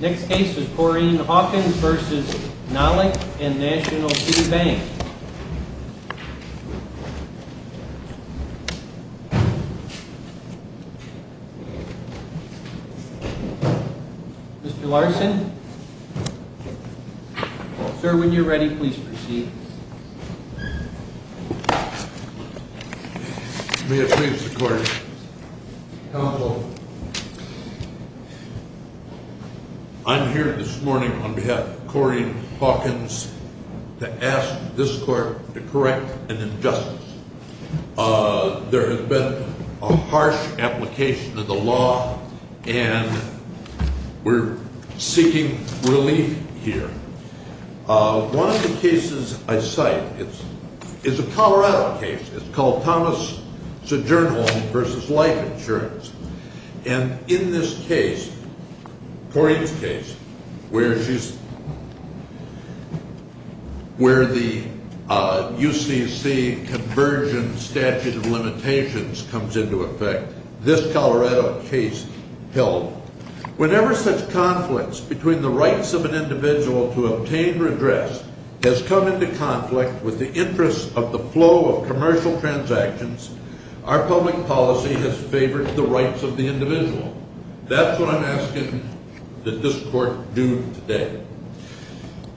Next case is Corrine Hawkins v. Nalick and National Food Bank Mr. Larson Sir, when you're ready, please proceed May it please the court Counsel I'm here this morning on behalf of Corrine Hawkins to ask this court to correct an injustice There has been a harsh application of the law and we're seeking relief here One of the cases I cite is a Colorado case, it's called Thomas Sojournholm v. Life Insurance And in this case, Corrine's case, where the UCC conversion statute of limitations comes into effect This Colorado case held Whenever such conflicts between the rights of an individual to obtain or address Has come into conflict with the interests of the flow of commercial transactions Our public policy has favored the rights of the individual That's what I'm asking that this court do today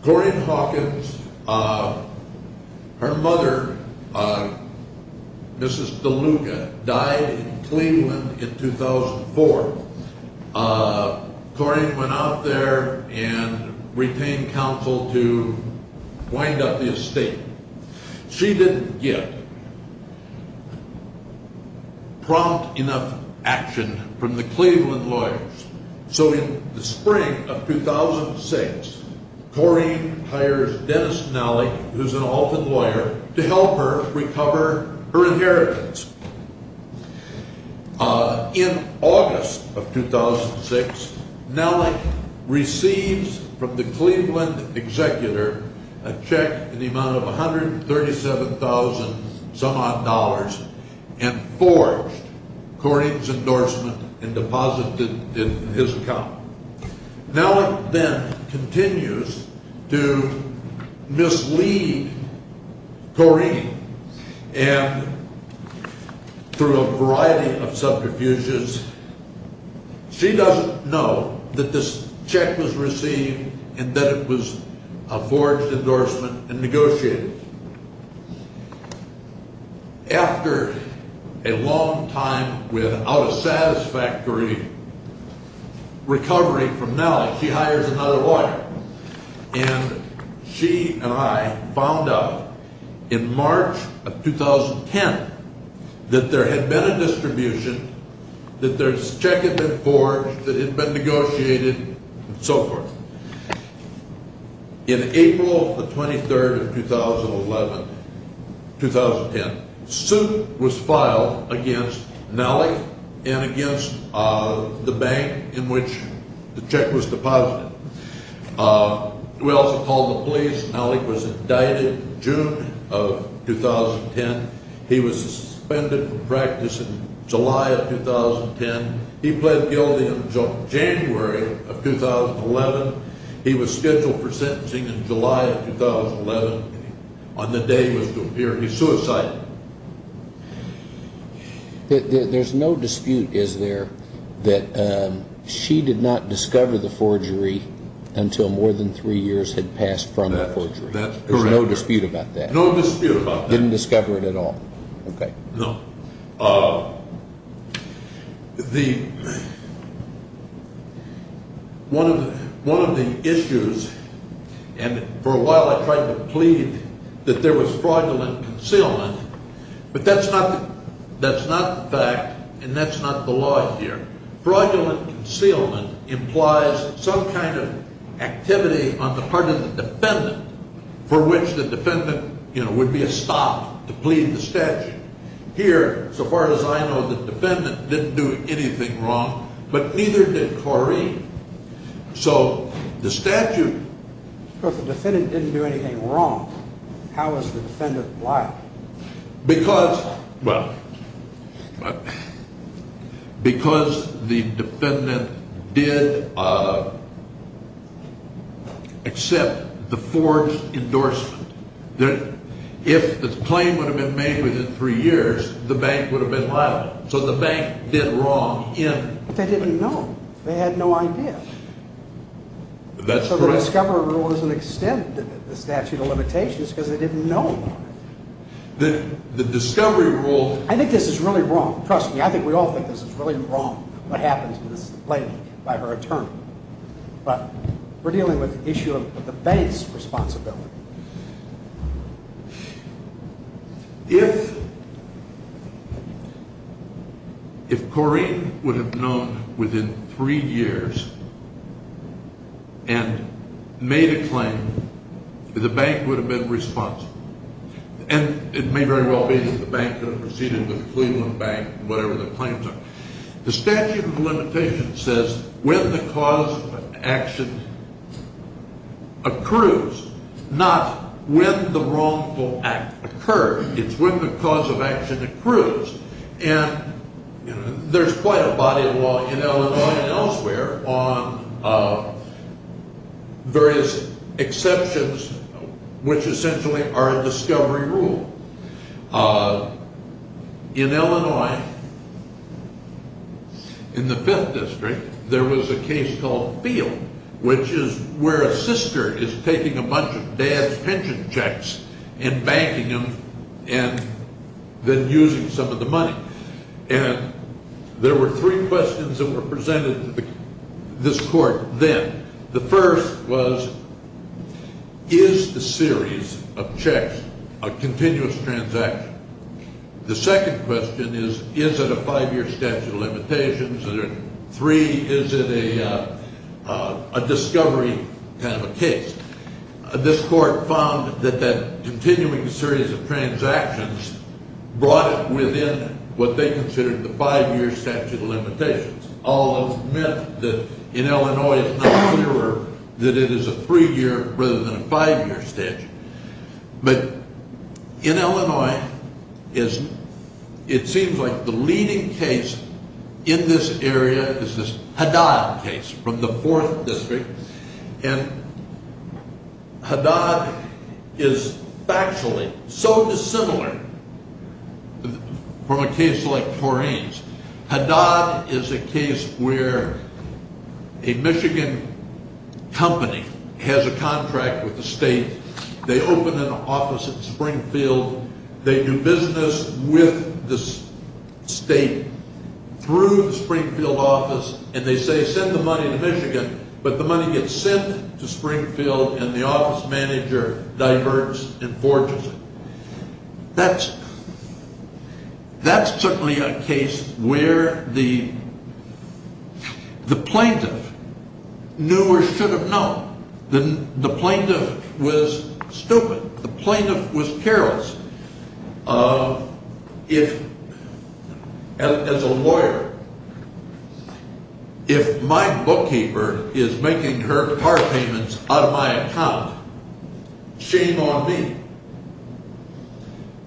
Corrine Hawkins, her mother, Mrs. DeLuca, died in Cleveland in 2004 Corrine went out there and retained counsel to wind up the estate She didn't get prompt enough action from the Cleveland lawyers So in the spring of 2006, Corrine hires Dennis Nalick, who's an orphan lawyer, to help her recover her inheritance In August of 2006, Nalick receives from the Cleveland executor a check in the amount of $137,000 some odd And forged Corrine's endorsement and deposited it in his account Nalick then continues to mislead Corrine And through a variety of subterfuges, she doesn't know that this check was received and that it was a forged endorsement and negotiated After a long time without a satisfactory recovery from Nalick, she hires another lawyer And she and I found out in March of 2010 that there had been a distribution, that this check had been forged, that it had been negotiated, and so forth In April the 23rd of 2011, 2010, suit was filed against Nalick and against the bank in which the check was deposited We also called the police. Nalick was indicted in June of 2010. He was suspended from practice in July of 2010 He pled guilty until January of 2011. He was scheduled for sentencing in July of 2011 On the day he was to appear, he suicided There's no dispute, is there, that she did not discover the forgery until more than three years had passed from the forgery? There's no dispute about that? No dispute about that Didn't discover it at all? No One of the issues, and for a while I tried to plead that there was fraudulent concealment, but that's not the fact and that's not the law here Fraudulent concealment implies some kind of activity on the part of the defendant for which the defendant would be stopped to plead the statute Here, so far as I know, the defendant didn't do anything wrong, but neither did Corey So the statute... But if the defendant didn't do anything wrong, how is the defendant liable? Because, well, because the defendant did accept the forged endorsement, if the claim would have been made within three years, the bank would have been liable So the bank did wrong in... But they didn't know. They had no idea That's correct The discovery rule doesn't extend the statute of limitations because they didn't know about it The discovery rule... I think this is really wrong. Trust me, I think we all think this is really wrong, what happened to this lady by her attorney But we're dealing with the issue of the bank's responsibility If Corey would have known within three years and made a claim, the bank would have been responsible And it may very well be that the bank would have proceeded with the Cleveland Bank, whatever the claims are The statute of limitations says when the cause of action accrues, not when the wrongful act occurred It's when the cause of action accrues And there's quite a body of law in Illinois and elsewhere on various exceptions which essentially are a discovery rule In Illinois, in the 5th district, there was a case called Field, which is where a sister is taking a bunch of dad's pension checks And banking them and then using some of the money And there were three questions that were presented to this court then The first was, is the series of checks a continuous transaction? The second question is, is it a five-year statute of limitations? And then three, is it a discovery kind of a case? This court found that that continuing series of transactions brought it within what they considered the five-year statute of limitations Although it's meant that in Illinois it's not clearer that it is a three-year rather than a five-year statute But in Illinois, it seems like the leading case in this area is this Haddad case from the 4th district And Haddad is factually so dissimilar from a case like Taurine's Haddad is a case where a Michigan company has a contract with the state They open an office at Springfield They do business with the state through the Springfield office And they say, send the money to Michigan But the money gets sent to Springfield and the office manager diverts and forges it That's certainly a case where the plaintiff knew or should have known The plaintiff was stupid The plaintiff was careless If, as a lawyer, if my bookkeeper is making her car payments out of my account, shame on me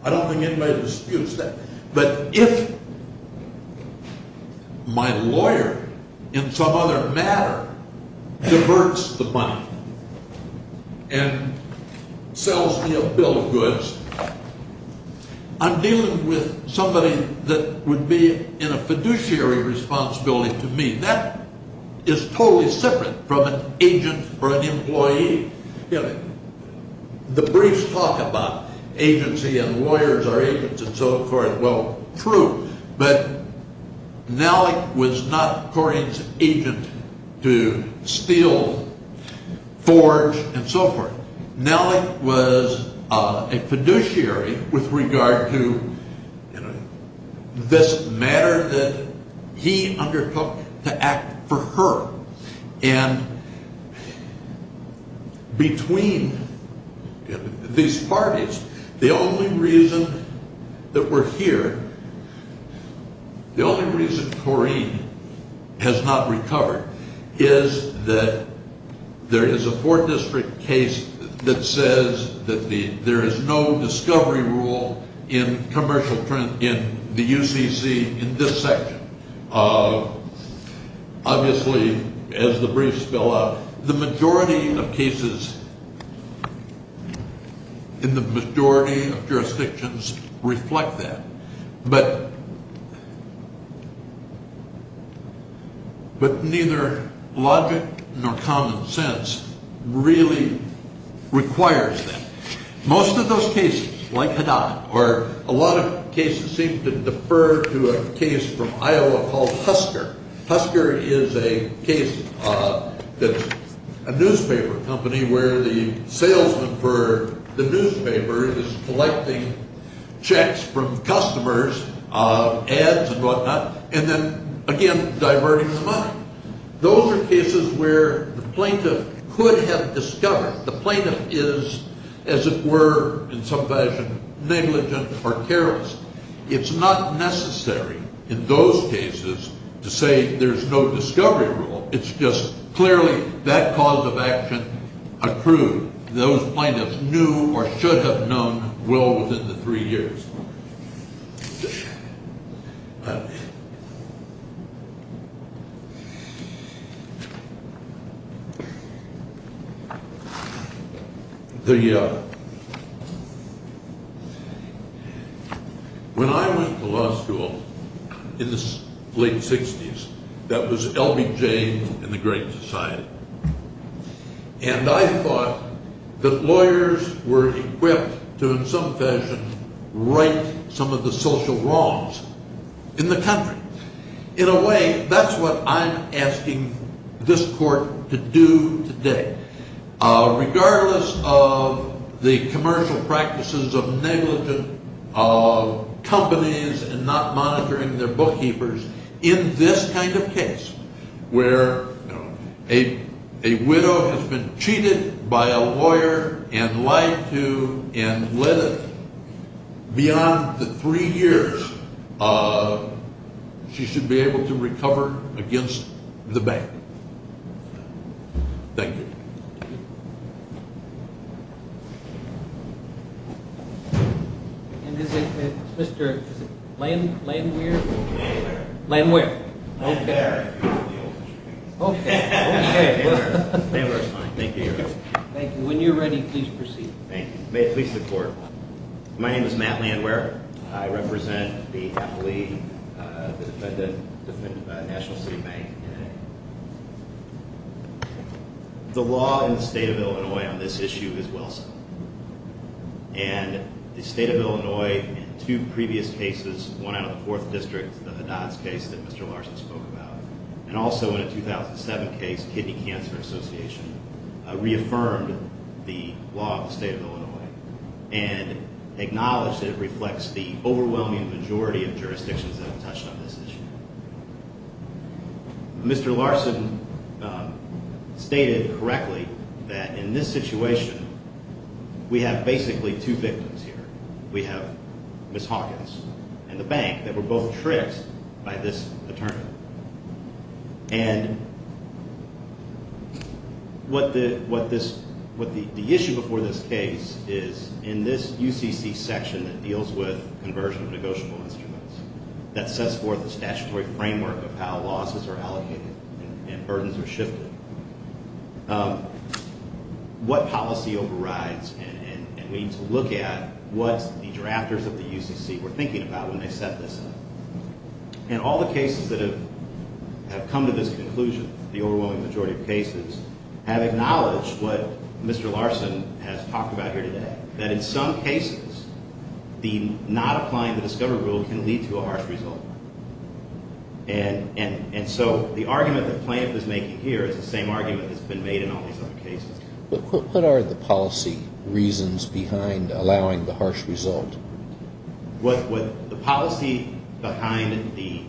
I don't think anybody disputes that But if my lawyer, in some other matter, diverts the money and sells me a bill of goods I'm dealing with somebody that would be in a fiduciary responsibility to me That is totally separate from an agent or an employee The briefs talk about agency and lawyers are agents and so forth Well, true But Nellick was not Taurine's agent to steal, forge, and so forth Nellick was a fiduciary with regard to this matter that he undertook to act for her And between these parties, the only reason that we're here The only reason Taurine has not recovered is that there is a four-district case that says That there is no discovery rule in the UCC in this section Obviously, as the briefs fill out, the majority of cases in the majority of jurisdictions reflect that But neither logic nor common sense really requires that Most of those cases, like Haddad, or a lot of cases seem to defer to a case from Iowa called Husker Husker is a case that's a newspaper company where the salesman for the newspaper is collecting checks from customers Ads and whatnot, and then, again, diverting the money Those are cases where the plaintiff could have discovered The plaintiff is, as it were, in some fashion, negligent or careless It's not necessary in those cases to say there's no discovery rule It's just clearly that cause of action accrued Those plaintiffs knew or should have known well within the three years When I went to law school in the late 60s, that was LBJ and the Great Society And I thought that lawyers were equipped to, in some fashion, right some of the social wrongs in the country In a way, that's what I'm asking this court to do today Regardless of the commercial practices of negligent companies and not monitoring their bookkeepers In this kind of case, where a widow has been cheated by a lawyer and lied to And let it, beyond the three years, she should be able to recover against the bank Thank you And is it Mr. Landwehr? Landwehr Landwehr Landwehr Okay, okay Landwehr is fine, thank you Thank you, when you're ready, please proceed Thank you May it please the court My name is Matt Landwehr I represent the appellee, the defendant, National City Bank The law in the state of Illinois on this issue is well set And the state of Illinois, in two previous cases, one out of the fourth district, the Hadass case that Mr. Larson spoke about And also in a 2007 case, Kidney Cancer Association, reaffirmed the law of the state of Illinois And acknowledged that it reflects the overwhelming majority of jurisdictions that have touched on this issue Mr. Larson stated correctly that in this situation, we have basically two victims here We have Ms. Hawkins and the bank that were both tricked by this attorney And what the issue before this case is, in this UCC section that deals with conversion of negotiable instruments That sets forth a statutory framework of how losses are allocated and burdens are shifted What policy overrides and we need to look at what the drafters of the UCC were thinking about when they set this up And all the cases that have come to this conclusion, the overwhelming majority of cases Have acknowledged what Mr. Larson has talked about here today That in some cases, the not applying the discovery rule can lead to a harsh result And so the argument that Plamp is making here is the same argument that has been made in all these other cases What are the policy reasons behind allowing the harsh result? The policy behind the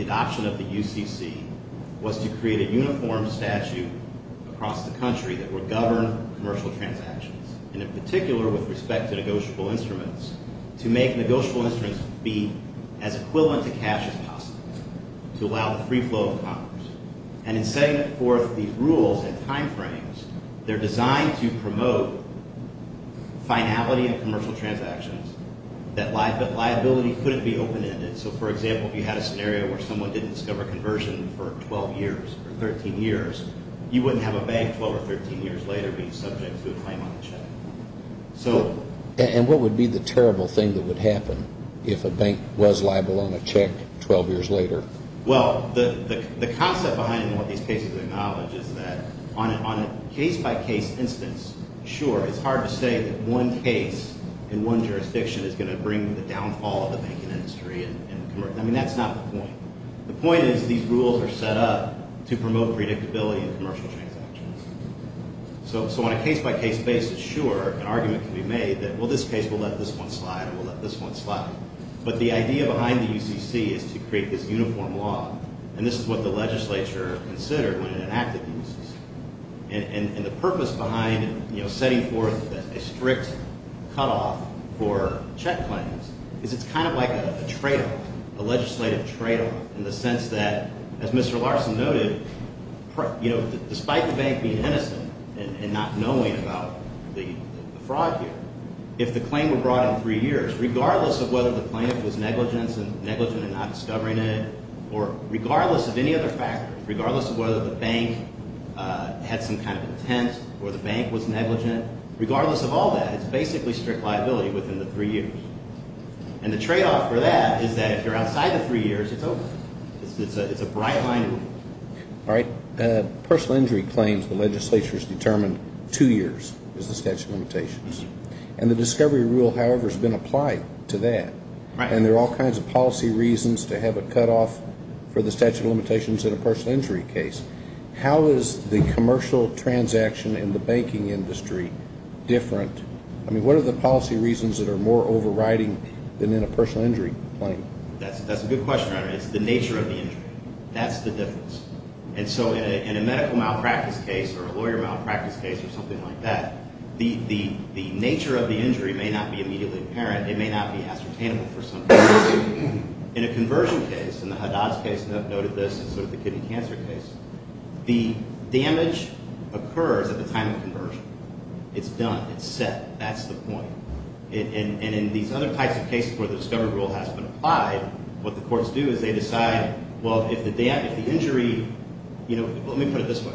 adoption of the UCC was to create a uniform statute across the country That would govern commercial transactions And in particular with respect to negotiable instruments To make negotiable instruments be as equivalent to cash as possible To allow the free flow of commerce And in setting forth these rules and time frames, they're designed to promote finality in commercial transactions That liability couldn't be open-ended So for example, if you had a scenario where someone didn't discover conversion for 12 years or 13 years You wouldn't have a bank 12 or 13 years later being subject to a claim on a check And what would be the terrible thing that would happen if a bank was liable on a check 12 years later? Well, the concept behind what these cases acknowledge is that on a case-by-case instance Sure, it's hard to say that one case in one jurisdiction is going to bring the downfall of the banking industry I mean, that's not the point The point is these rules are set up to promote predictability in commercial transactions So on a case-by-case basis, sure, an argument can be made that, well, this case will let this one slide Or will let this one slide But the idea behind the UCC is to create this uniform law And this is what the legislature considered when it enacted the UCC And the purpose behind setting forth a strict cutoff for check claims Is it's kind of like a trade-off, a legislative trade-off In the sense that, as Mr. Larson noted, you know, despite the bank being innocent and not knowing about the fraud here If the claim were brought in three years, regardless of whether the claimant was negligent and not discovering it Or regardless of any other factors, regardless of whether the bank had some kind of intent or the bank was negligent Regardless of all that, it's basically strict liability within the three years And the trade-off for that is that if you're outside the three years, it's over It's a bright-line rule All right, personal injury claims, the legislature has determined two years is the statute of limitations And the discovery rule, however, has been applied to that And there are all kinds of policy reasons to have a cutoff for the statute of limitations in a personal injury case How is the commercial transaction in the banking industry different? I mean, what are the policy reasons that are more overriding than in a personal injury claim? That's a good question. It's the nature of the injury. That's the difference And so in a medical malpractice case or a lawyer malpractice case or something like that The nature of the injury may not be immediately apparent It may not be ascertainable for some people In a conversion case, in the Haddad's case, and I've noted this in sort of the kidney cancer case The damage occurs at the time of conversion It's done. It's set. That's the point And in these other types of cases where the discovery rule has been applied What the courts do is they decide, well, if the injury, you know, let me put it this way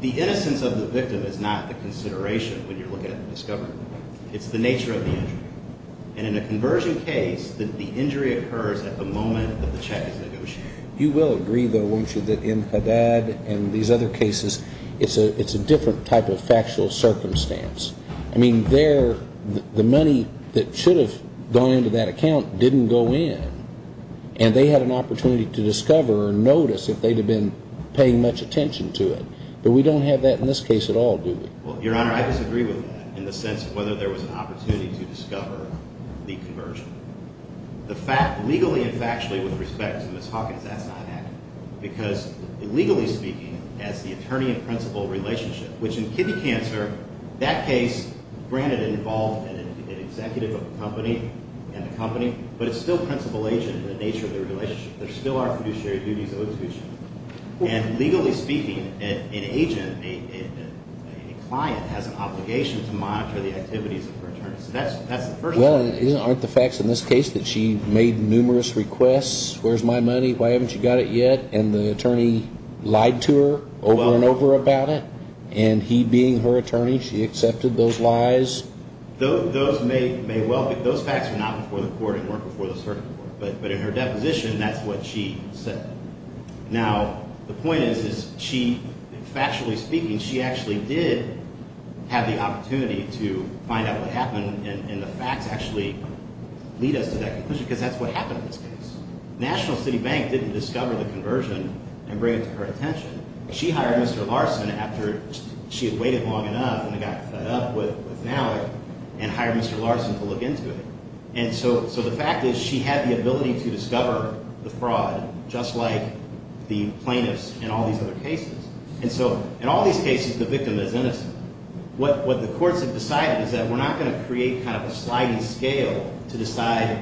The innocence of the victim is not the consideration when you're looking at the discovery It's the nature of the injury And in a conversion case, the injury occurs at the moment that the check is negotiated You will agree, though, won't you, that in Haddad and these other cases It's a different type of factual circumstance I mean, the money that should have gone into that account didn't go in And they had an opportunity to discover or notice if they'd have been paying much attention to it But we don't have that in this case at all, do we? Well, Your Honor, I disagree with that in the sense of whether there was an opportunity to discover the conversion Legally and factually, with respect to Ms. Hawkins, that's not happening Because legally speaking, as the attorney-in-principal relationship Which in kidney cancer, that case, granted it involved an executive of a company And the company, but it's still principal agent in the nature of the relationship And legally speaking, an agent, a client, has an obligation to monitor the activities of her attorney So that's the first thing Well, aren't the facts in this case that she made numerous requests Where's my money? Why haven't you got it yet? And the attorney lied to her over and over about it And he being her attorney, she accepted those lies Those facts are not before the court and weren't before the circuit court But in her deposition, that's what she said Now, the point is, factually speaking, she actually did have the opportunity to find out what happened And the facts actually lead us to that conclusion Because that's what happened in this case National City Bank didn't discover the conversion and bring it to her attention She hired Mr. Larson after she had waited long enough and got fed up with Malik And hired Mr. Larson to look into it And so the fact is, she had the ability to discover the fraud Just like the plaintiffs in all these other cases And so, in all these cases, the victim is innocent What the courts have decided is that we're not going to create kind of a sliding scale To decide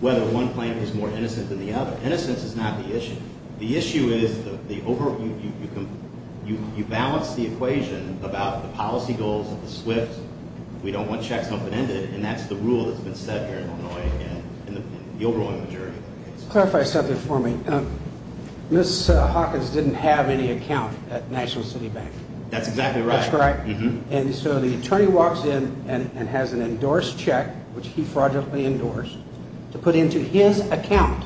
whether one plaintiff is more innocent than the other Innocence is not the issue The issue is, you balance the equation about the policy goals of the SWIFT We don't want checks open-ended And that's the rule that's been set here in Illinois In the overall majority of the case Clarify something for me Ms. Hawkins didn't have any account at National City Bank That's exactly right That's correct And so the attorney walks in and has an endorsed check Which he fraudulently endorsed To put into his account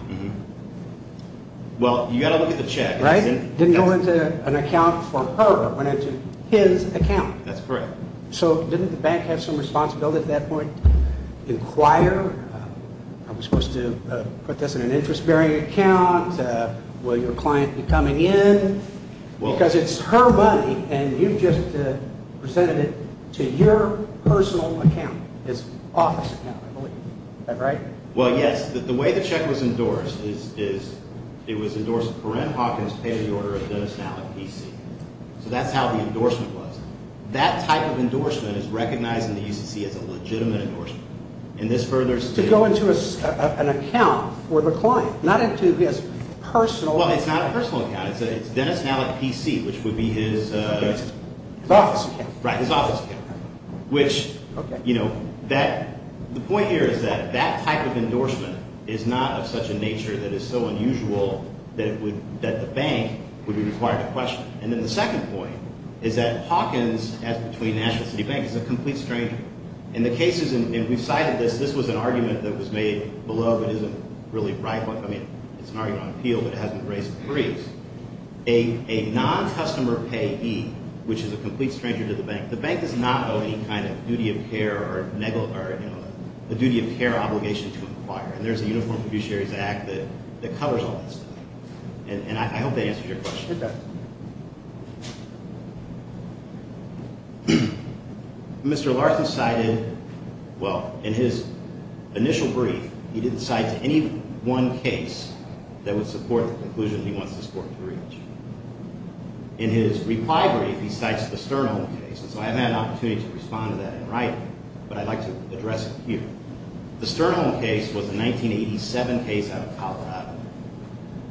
Well, you've got to look at the check Didn't go into an account for her It went into his account That's correct So didn't the bank have some responsibility at that point? Inquire? I'm supposed to put this in an interest-bearing account Will your client be coming in? Because it's her money And you've just presented it to your personal account His office account, I believe Is that right? Well, yes The way the check was endorsed is It was endorsed for M. Hawkins Pay the order of Dennis Mallet, P.C. So that's how the endorsement was That type of endorsement is recognized in the U.C.C. as a legitimate endorsement And this further states To go into an account for the client Not into his personal Well, it's not a personal account It's Dennis Mallet, P.C. Which would be his His office account Right, his office account Which, you know, that The point here is that That type of endorsement is not of such a nature That is so unusual That the bank would be required to question it And then the second point Is that Hawkins, as between National and Citibank Is a complete stranger And the case is And we've cited this This was an argument that was made below But isn't really right I mean, it's an argument on appeal But it hasn't raised the briefs A non-customer payee Which is a complete stranger to the bank The bank does not owe any kind of duty of care Or, you know, a duty of care obligation to inquire And there's a uniformed fiduciaries act That covers all this And I hope that answers your question Mr. Larson cited Well, in his initial brief He didn't cite any one case That would support the conclusion He wants this court to reach In his reply brief He cites the Sternholm case And so I haven't had an opportunity To respond to that in writing But I'd like to address it here The Sternholm case was a 1987 case out of Colorado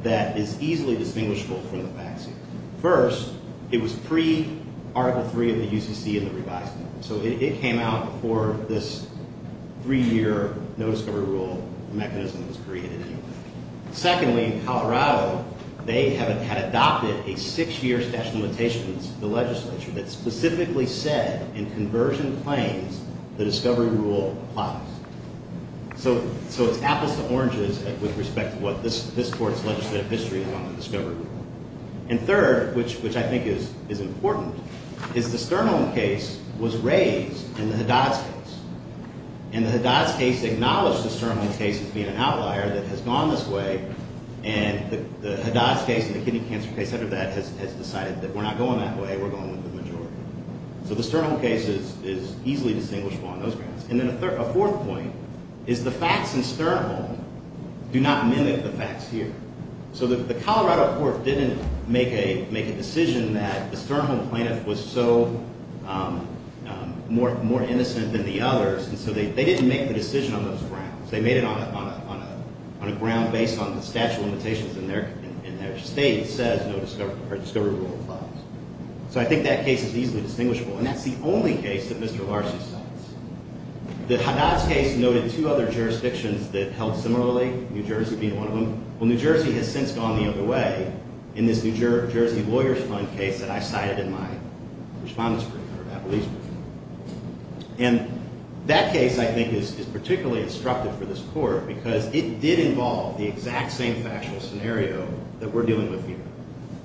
That is easily distinguishable from the facts First, it was pre-Article 3 of the UCC And the revised law So it came out before this Three-year no-discovery rule mechanism Was created anyway Secondly, in Colorado They had adopted a six-year statute of limitations The legislature That specifically said In conversion claims The discovery rule applies So it's apples to oranges With respect to what this court's Legislative history is on the discovery rule And third, which I think is important Is the Sternholm case Was raised in the Haddad's case And the Haddad's case Acknowledged the Sternholm case As being an outlier That has gone this way And the Haddad's case And the kidney cancer case After that has decided That we're not going that way We're going with the majority So the Sternholm case Is easily distinguishable on those grounds And then a fourth point Is the facts in Sternholm Do not mimic the facts here So the Colorado court Didn't make a decision That the Sternholm plaintiff Was so more innocent than the others And so they didn't make the decision On those grounds They made it on a ground Based on the statute of limitations In their state Says no discovery rule applies So I think that case Is easily distinguishable And that's the only case That Mr. Larsen says The Haddad's case Noted two other jurisdictions That held similarly New Jersey being one of them Well New Jersey has since Gone the other way In this New Jersey lawyers fund case That I cited in my Respondents brief Or Applebee's brief And that case I think Is particularly instructive For this court Because it did involve The exact same factual scenario That we're dealing with here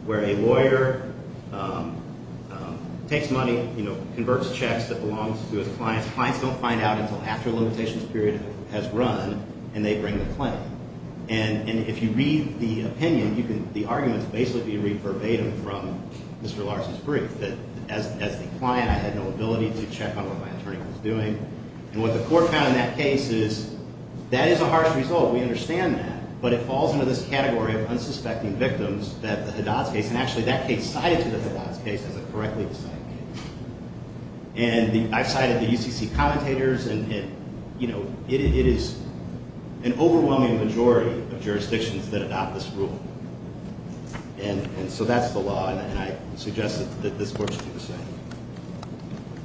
Where a lawyer Takes money Converts checks That belongs to his clients Clients don't find out Until after a limitations period Has run And they bring the claim And if you read the opinion The arguments basically Be verbatim from Mr. Larsen's brief That as the client I had no ability to check On what my attorney was doing And what the court found In that case is That is a harsh result We understand that But it falls into this category Of unsuspecting victims That the Haddad's case And actually that case Cited to the Haddad's case As a correctly decided case And I've cited The UCC commentators And it is An overwhelming majority Of jurisdictions That adopt this rule And so that's the law And I suggest That this court should do the same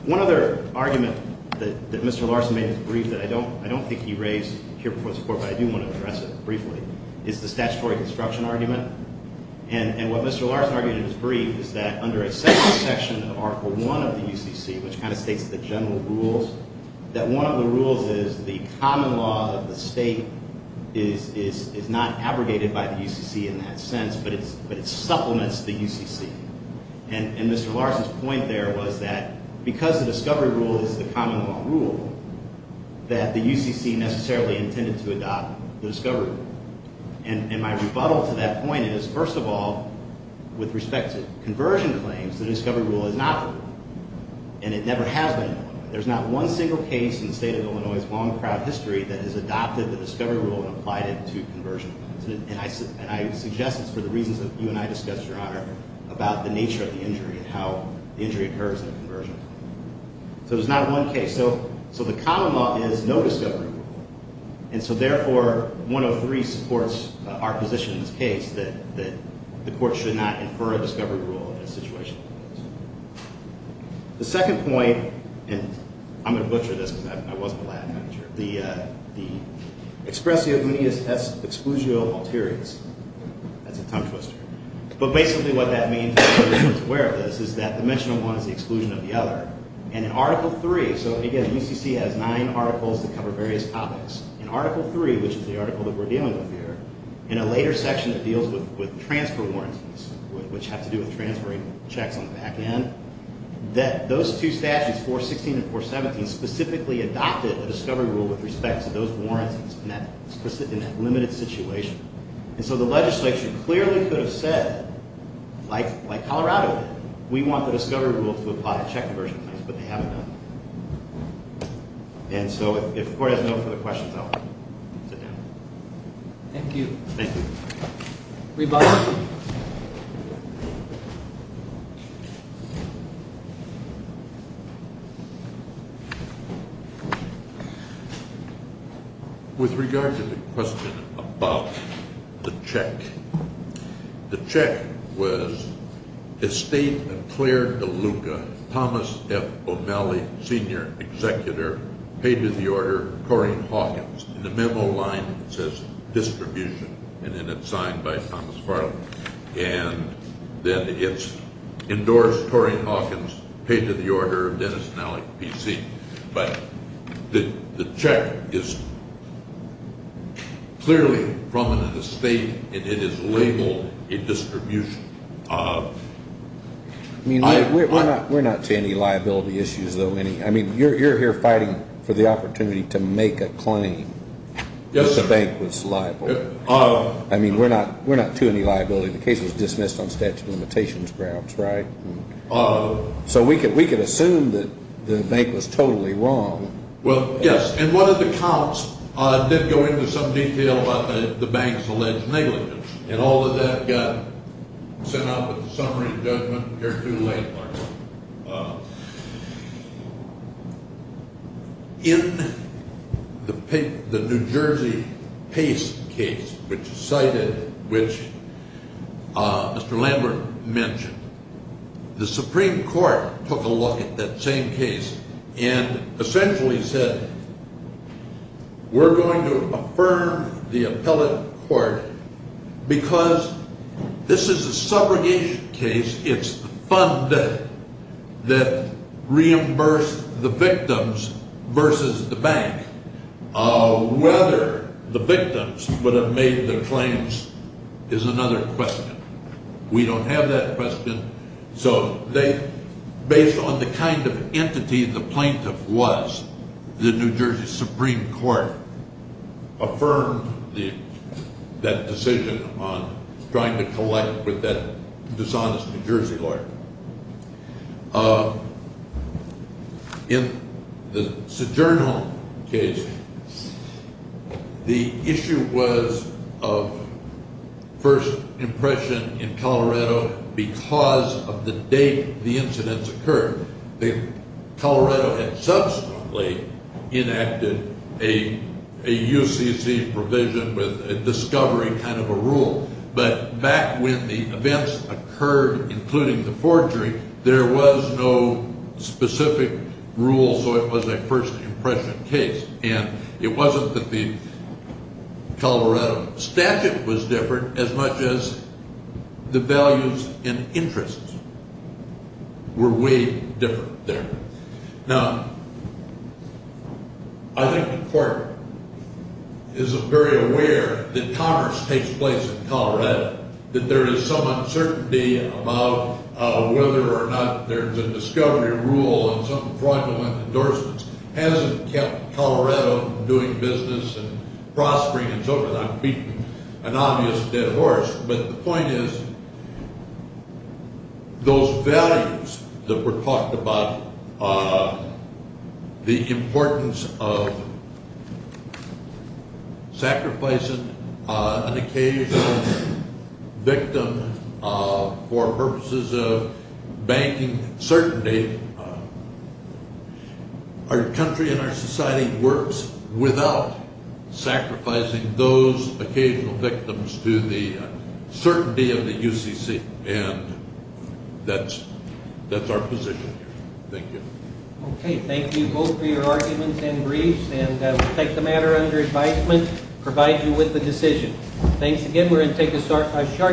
One other argument That Mr. Larsen made in his brief That I don't think he raised Here before this court But I do want to address it Briefly Is the statutory construction argument And what Mr. Larsen argued In his brief Is that under a second section Of article one of the UCC Which kind of states The general rules That one of the rules Is the common law Of the state Is not abrogated by the UCC In that sense But it supplements the UCC And Mr. Larsen's point there Was that because the discovery rule Is the common law rule That the UCC necessarily Intended to adopt the discovery rule And my rebuttal to that point Is first of all With respect to conversion claims Because the discovery rule Is not the rule And it never has been the rule There's not one single case In the state of Illinois With long, proud history That has adopted the discovery rule And applied it to conversion And I suggest It's for the reasons That you and I discussed, Your Honor About the nature of the injury And how the injury occurs In a conversion So there's not one case So the common law Is no discovery rule And so therefore 103 supports our position In this case That the court should not Infer a discovery rule In a situation like this The second point And I'm going to butcher this Because I wasn't allowed to The expressio guneus Exclusio alterius That's a tongue twister But basically what that means For those who aren't aware of this Is that the mention of one Is the exclusion of the other And in Article 3 So again, the UCC Has nine articles That cover various topics In Article 3 Which is the article That we're dealing with here In a later section That deals with Transfer warranties Which have to do with Transferring checks on the back end That those two statutes 416 and 417 Specifically adopted A discovery rule With respect to those warrants In that limited situation And so the legislature Clearly could have said Like Colorado did We want the discovery rule To apply at check conversion But they haven't done it And so if the court Has a note for the questions I'll sit down Thank you Thank you Rebuttal With regard to the question About the check The check was Estate of Claire DeLuca Thomas F. O'Malley Senior Executor Pay to the Order Corrine Hawkins In the memo line It says distribution And then it's signed By Thomas F. O'Malley And then it's Endorsed Corrine Hawkins Pay to the Order Dennis and Alec P.C. But the check is Clearly from an estate And it is labeled A distribution Of I mean we're not We're not seeing any liability issues Though any I mean you're here fighting For the opportunity To make a claim That the bank was liable I mean we're not We're not to any liability The case was dismissed On statute of limitations grounds Right? So we could We could assume That the bank was Totally wrong Well yes And one of the counts Did go into some detail About the bank's Alleged negligence And all of that Got sent out With the summary And judgment Here too late In The New Jersey PACE case Which cited Which Mr. Landler Mentioned The Supreme Court Took a look At that same case And Essentially said We're going to Affirm The appellate court Because This is a Subrogation case It's the fund debt That Reimbursed The victims Versus the bank Whether The victims Would have made their claims Is another question We don't have that question So they Based on the kind of Entity the plaintiff was The New Jersey Supreme Court Affirmed That decision On trying to collect With that Dishonest New Jersey lawyer In The Sojournal case The issue Was Of First Impression In Colorado Because Of the date The incidents Occurred The Colorado had Subsequently Enacted A A UCC Provision With a discovery Kind of a rule But Back when the Events Occurred Including the forgery There was no Specific Rule So it was a First impression Case And it wasn't That the Colorado Statute Was different As much as The values And interests Were way Different there Now I think the court Is very aware That Congress Takes place In Colorado That there is Some uncertainty About Whether or not There's a discovery Rule And some fraudulent Endorsements Hasn't kept Colorado Doing business And prospering And so forth I'm beating An obvious Dead horse But the point is Those values That were talked About The importance Of Sacrificing An occasional Victim For purposes Of Banking Certainty Our Country And our Society Works Without Sacrificing Those Occasional Victims To the Certainty Of the UCC And that's Our position Thank you Thank you both For your arguments And briefs And we'll take The matter Under advisement Provide you With a decision Thanks again We're going to Take a short Break Thank you Thanks Thank you Thanks Thanks Thanks Thanks